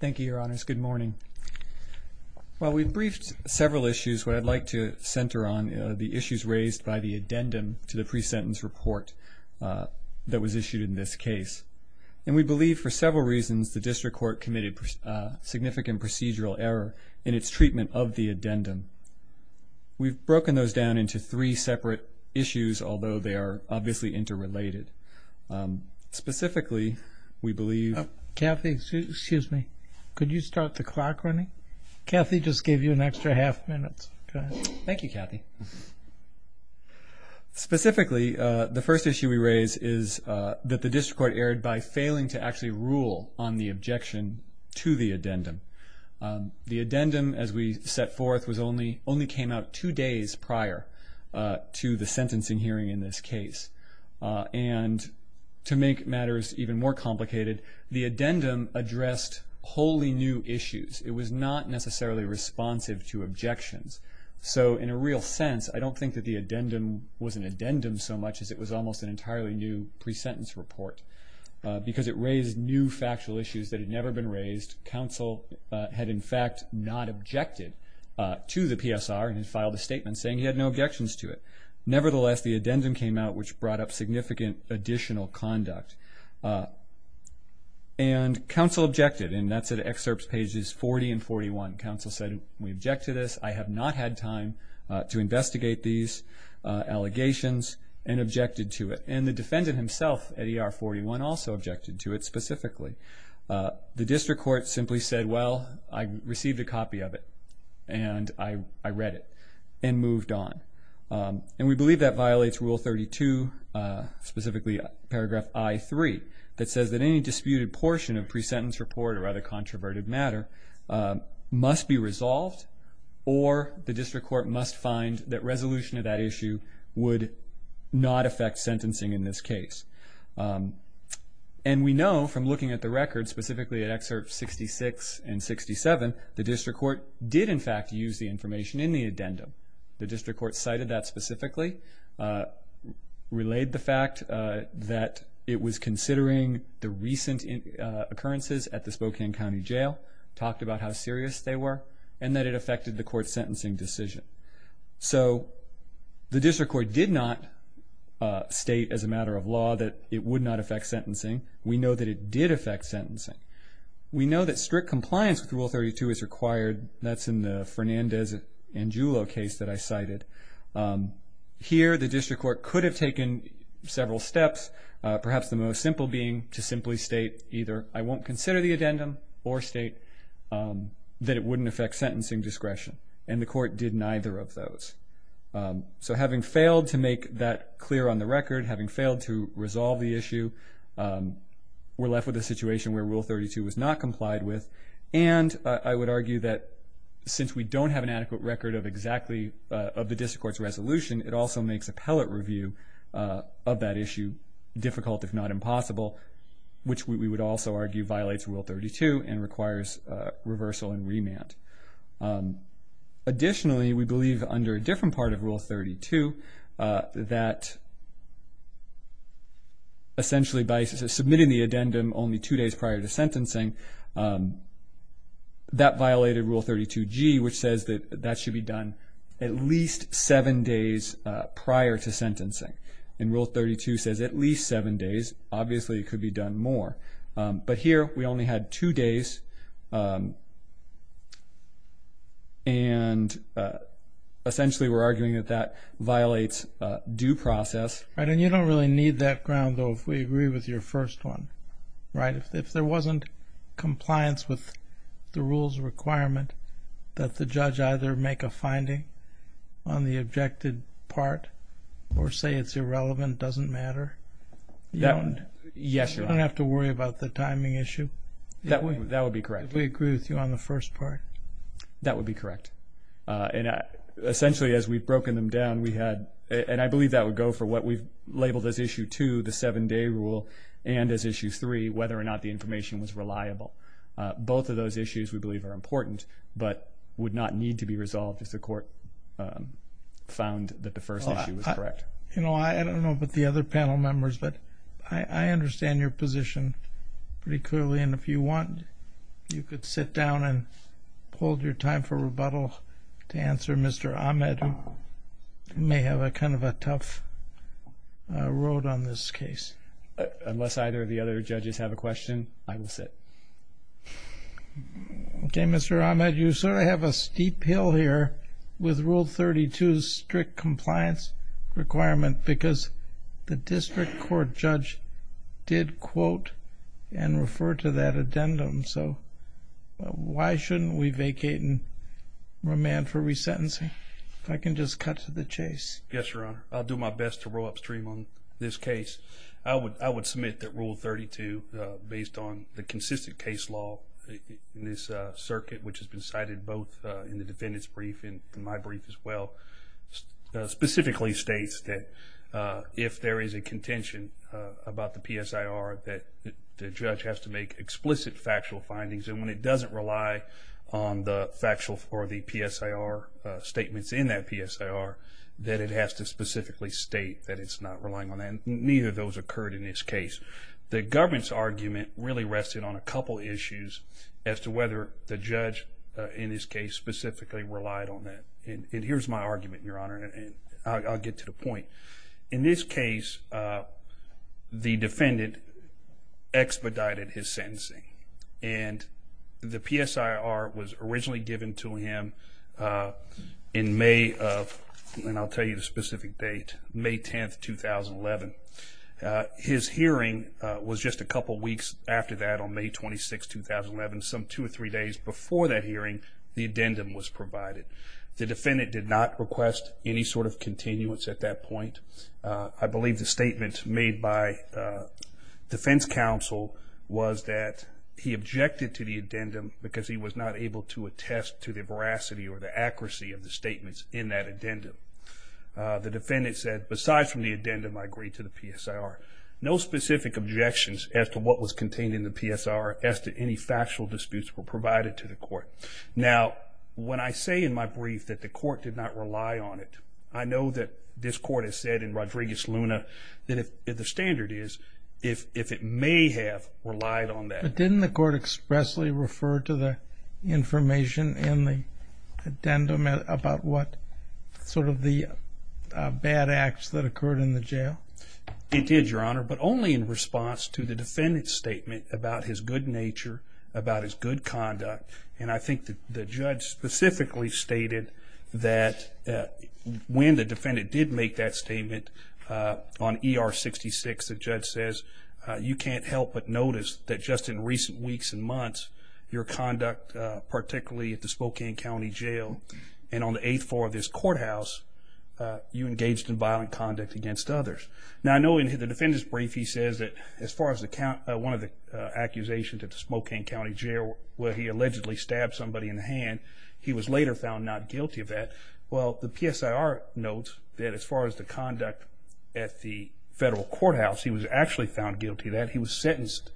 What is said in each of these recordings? Thank you, your honors. Good morning. Well, we've briefed several issues, but I'd like to center on the issues raised by the addendum to the pre-sentence report that was issued in this case. And we believe for several reasons the district court committed significant procedural error in its treatment of the addendum. We've broken those down into three separate issues, although they are obviously interrelated. Specifically, we believe... Oh, Kathy, excuse me. Could you start the clock running? Kathy just gave you an extra half minute. Go ahead. Thank you, Kathy. Specifically, the first issue we raise is that the district court erred by failing to actually rule on the objection to the addendum. The addendum, as we set forth, only came out two days prior to the sentencing hearing in this case. And to make matters even more complicated, the addendum addressed wholly new issues. It was not necessarily responsive to objections. So in a real sense, I don't think that the addendum was an addendum so much as it was almost an entirely new pre-sentence report, because it raised new factual issues that had never been raised. Counsel had, in fact, not objected to the PSR and had filed a statement saying he had no objections to it. Nevertheless, the addendum came out, which brought up significant additional conduct. And counsel objected, and that's at excerpts pages 40 and 41. Counsel said, we object to this. I have not had time to investigate these allegations and objected to it. And the defendant himself at ER 41 also objected to it specifically. The district court simply said, well, I received a copy of it and I read it and moved on. And we believe that violates Rule 32, specifically Paragraph I-3, that says that any disputed portion of pre-sentence report or other controverted matter must be resolved or the district court must find that resolution of that issue would not affect sentencing in this case. And we know from looking at the record, specifically at excerpts 66 and 67, the district court did, in fact, use the information in the addendum. The district court cited that specifically, relayed the fact that it was considering the recent occurrences at the Spokane County Jail, talked about how serious they were, and that it affected the court's sentencing decision. So the district court did not state as a matter of law that it would not affect sentencing. We know that it did affect sentencing. We know that strict compliance with Rule 32 is required. That's in the Fernandez and Julo case that I cited. Here, the district court could have taken several steps, perhaps the most simple being to simply state either I won't consider the addendum or state that it wouldn't affect sentencing discretion. And the court did neither of those. So having failed to make that clear on the record, having failed to resolve the issue, we're left with a situation where Rule 32 was not complied with. And I would argue that since we don't have an adequate record of the district court's resolution, it also makes appellate review of that issue difficult, if not impossible, which we would also argue violates Rule 32 and requires reversal and remand. Additionally, we believe under a different part of Rule 32 that essentially by submitting the addendum only two days prior to sentencing, that violated Rule 32G, which says that that should be done at least seven days prior to sentencing. And Rule 32 says at least seven days. Obviously, it could be done more. But here we only had two days, and essentially we're arguing that that violates due process. And you don't really need that ground, though, if we agree with your first one, right? If there wasn't compliance with the rules requirement that the judge either make a finding on the objected part or say it's irrelevant, doesn't matter? Yes, Your Honor. You don't have to worry about the timing issue? That would be correct. If we agree with you on the first part? That would be correct. And essentially as we've broken them down, we had, and I believe that would go for what we've labeled as Issue 2, the seven-day rule, and as Issue 3, whether or not the information was reliable. Both of those issues we believe are important, but would not need to be resolved if the court found that the first issue was correct. I don't know about the other panel members, but I understand your position pretty clearly, and if you want, you could sit down and hold your time for rebuttal to answer Mr. Ahmed, who may have kind of a tough road on this case. Unless either of the other judges have a question, I will sit. Okay, Mr. Ahmed, you sort of have a steep hill here with Rule 32's strict compliance requirement because the district court judge did quote and refer to that addendum, so why shouldn't we vacate and remand for resentencing? If I can just cut to the chase. Yes, Your Honor. I'll do my best to roll upstream on this case. I would submit that Rule 32, based on the consistent case law in this circuit, which has been cited both in the defendant's brief and my brief as well, specifically states that if there is a contention about the PSIR, that the judge has to make explicit factual findings, and when it doesn't rely on the PSIR statements in that PSIR, that it has to specifically state that it's not relying on that. And neither of those occurred in this case. The government's argument really rested on a couple issues as to whether the judge, in this case, specifically relied on that. And here's my argument, Your Honor, and I'll get to the point. In this case, the defendant expedited his sentencing, and the PSIR was originally given to him in May of, and I'll tell you the specific date, May 10, 2011. His hearing was just a couple weeks after that, on May 26, 2011. Some two or three days before that hearing, the addendum was provided. The defendant did not request any sort of continuance at that point. I believe the statement made by defense counsel was that he objected to the addendum because he was not able to attest to the veracity or the accuracy of the statements in that addendum. The defendant said, besides from the addendum, I agree to the PSIR. No specific objections as to what was contained in the PSIR, as to any factual disputes were provided to the court. Now, when I say in my brief that the court did not rely on it, I know that this court has said in Rodriguez-Luna that the standard is, if it may have relied on that. But didn't the court expressly refer to the information in the addendum about what, sort of the bad acts that occurred in the jail? It did, Your Honor, but only in response to the defendant's statement about his good nature, about his good conduct, and I think the judge specifically stated that when the defendant did make that statement on ER 66, the judge says, you can't help but notice that just in recent weeks and months, your conduct, particularly at the Spokane County Jail, and on the eighth floor of this courthouse, you engaged in violent conduct against others. Now, I know in the defendant's brief he says that as far as one of the accusations at the Spokane County Jail where he allegedly stabbed somebody in the hand, he was later found not guilty of that. Well, the PSIR notes that as far as the conduct at the federal courthouse, he was actually found guilty of that. He was sentenced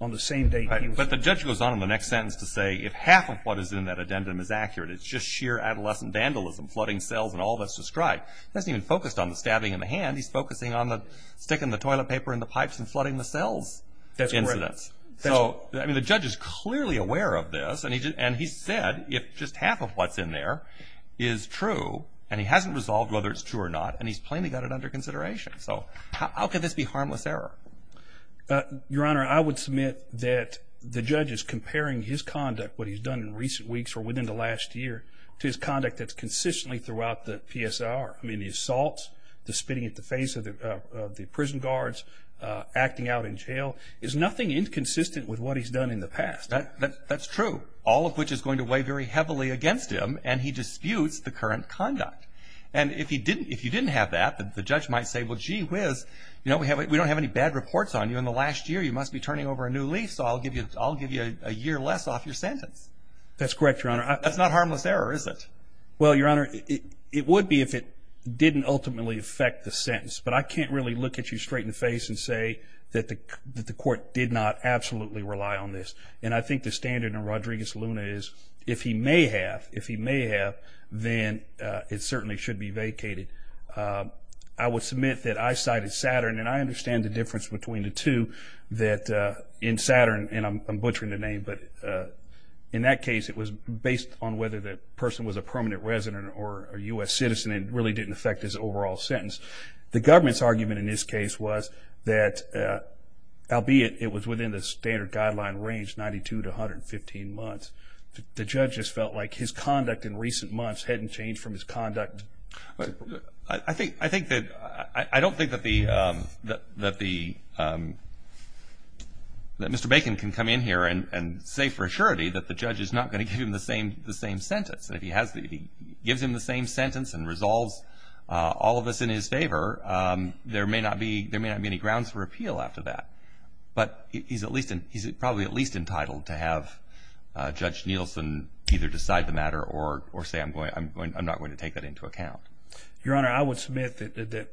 on the same day. But the judge goes on in the next sentence to say if half of what is in that addendum is accurate, it's just sheer adolescent vandalism, flooding cells and all that's described. He hasn't even focused on the stabbing in the hand. He's focusing on the sticking the toilet paper in the pipes and flooding the cells incidents. So, I mean, the judge is clearly aware of this, and he said if just half of what's in there is true, and he hasn't resolved whether it's true or not, and he's plainly got it under consideration. So how can this be harmless error? Your Honor, I would submit that the judge is comparing his conduct, what he's done in recent weeks or within the last year, to his conduct that's consistently throughout the PSIR. I mean, the assaults, the spitting at the face of the prison guards, acting out in jail, is nothing inconsistent with what he's done in the past. That's true, all of which is going to weigh very heavily against him, and he disputes the current conduct. And if you didn't have that, the judge might say, well, gee whiz, we don't have any bad reports on you. In the last year, you must be turning over a new leaf, so I'll give you a year less off your sentence. That's correct, Your Honor. That's not harmless error, is it? Well, Your Honor, it would be if it didn't ultimately affect the sentence, but I can't really look at you straight in the face and say that the court did not absolutely rely on this. And I think the standard in Rodriguez-Luna is if he may have, if he may have, then it certainly should be vacated. I would submit that I cited Saturn, and I understand the difference between the two, that in Saturn, and I'm butchering the name, but in that case it was based on whether the person was a permanent resident or a U.S. citizen and really didn't affect his overall sentence. The government's argument in this case was that, albeit it was within the standard guideline range, 92 to 115 months, the judge just felt like his conduct in recent months hadn't changed from his conduct. I think that, I don't think that the, that Mr. Bacon can come in here and say for surety that the judge is not going to give him the same, the same sentence. And if he has, if he gives him the same sentence and resolves all of this in his favor, there may not be, there may not be any grounds for appeal after that. But he's at least, he's probably at least entitled to have Judge Nielsen either decide the matter or say I'm going, I'm not going to take that into account. Your Honor, I would submit that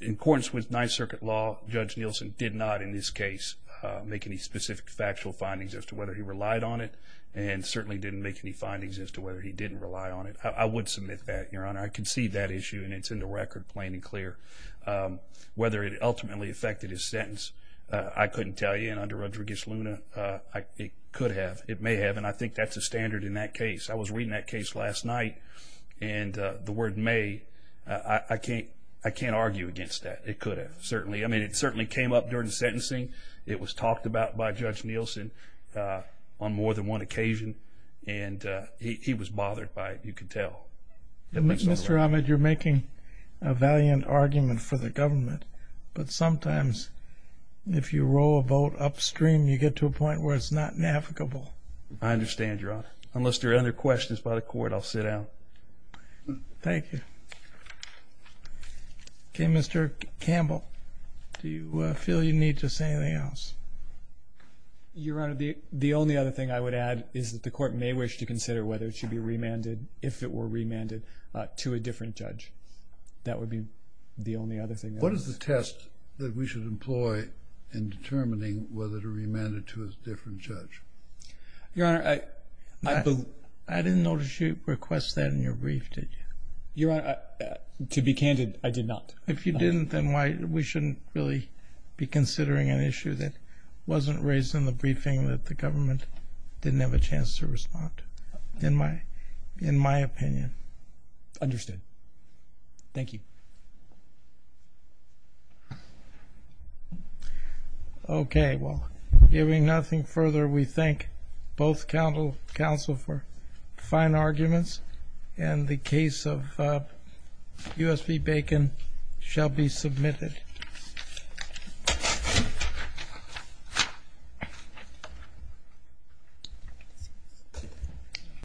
in accordance with Ninth Circuit law, Judge Nielsen did not, in this case, make any specific factual findings as to whether he relied on it and certainly didn't make any findings as to whether he didn't rely on it. I would submit that, Your Honor. I can see that issue and it's in the record plain and clear. Whether it ultimately affected his sentence, I couldn't tell you. And under Rodriguez-Luna, it could have, it may have. And I think that's a standard in that case. I was reading that case last night and the word may, I can't, I can't argue against that. It could have, certainly. I mean, it certainly came up during the sentencing. It was talked about by Judge Nielsen on more than one occasion. And he was bothered by it, you can tell. Mr. Ahmed, you're making a valiant argument for the government. But sometimes if you roll a vote upstream, you get to a point where it's not navigable. I understand, Your Honor. Unless there are other questions by the Court, I'll sit down. Thank you. Okay, Mr. Campbell, do you feel you need to say anything else? Your Honor, the only other thing I would add is that the Court may wish to consider whether it should be remanded, if it were remanded, to a different judge. That would be the only other thing I would say. What is the test that we should employ in determining whether to remand it to a different judge? Your Honor, I didn't notice you request that in your brief, did you? Your Honor, to be candid, I did not. If you didn't, then we shouldn't really be considering an issue that wasn't raised in the briefing that the government didn't have a chance to respond, in my opinion. Understood. Thank you. Okay, well, giving nothing further, we thank both counsel for fine arguments and the case of U.S.P. Bacon shall be submitted.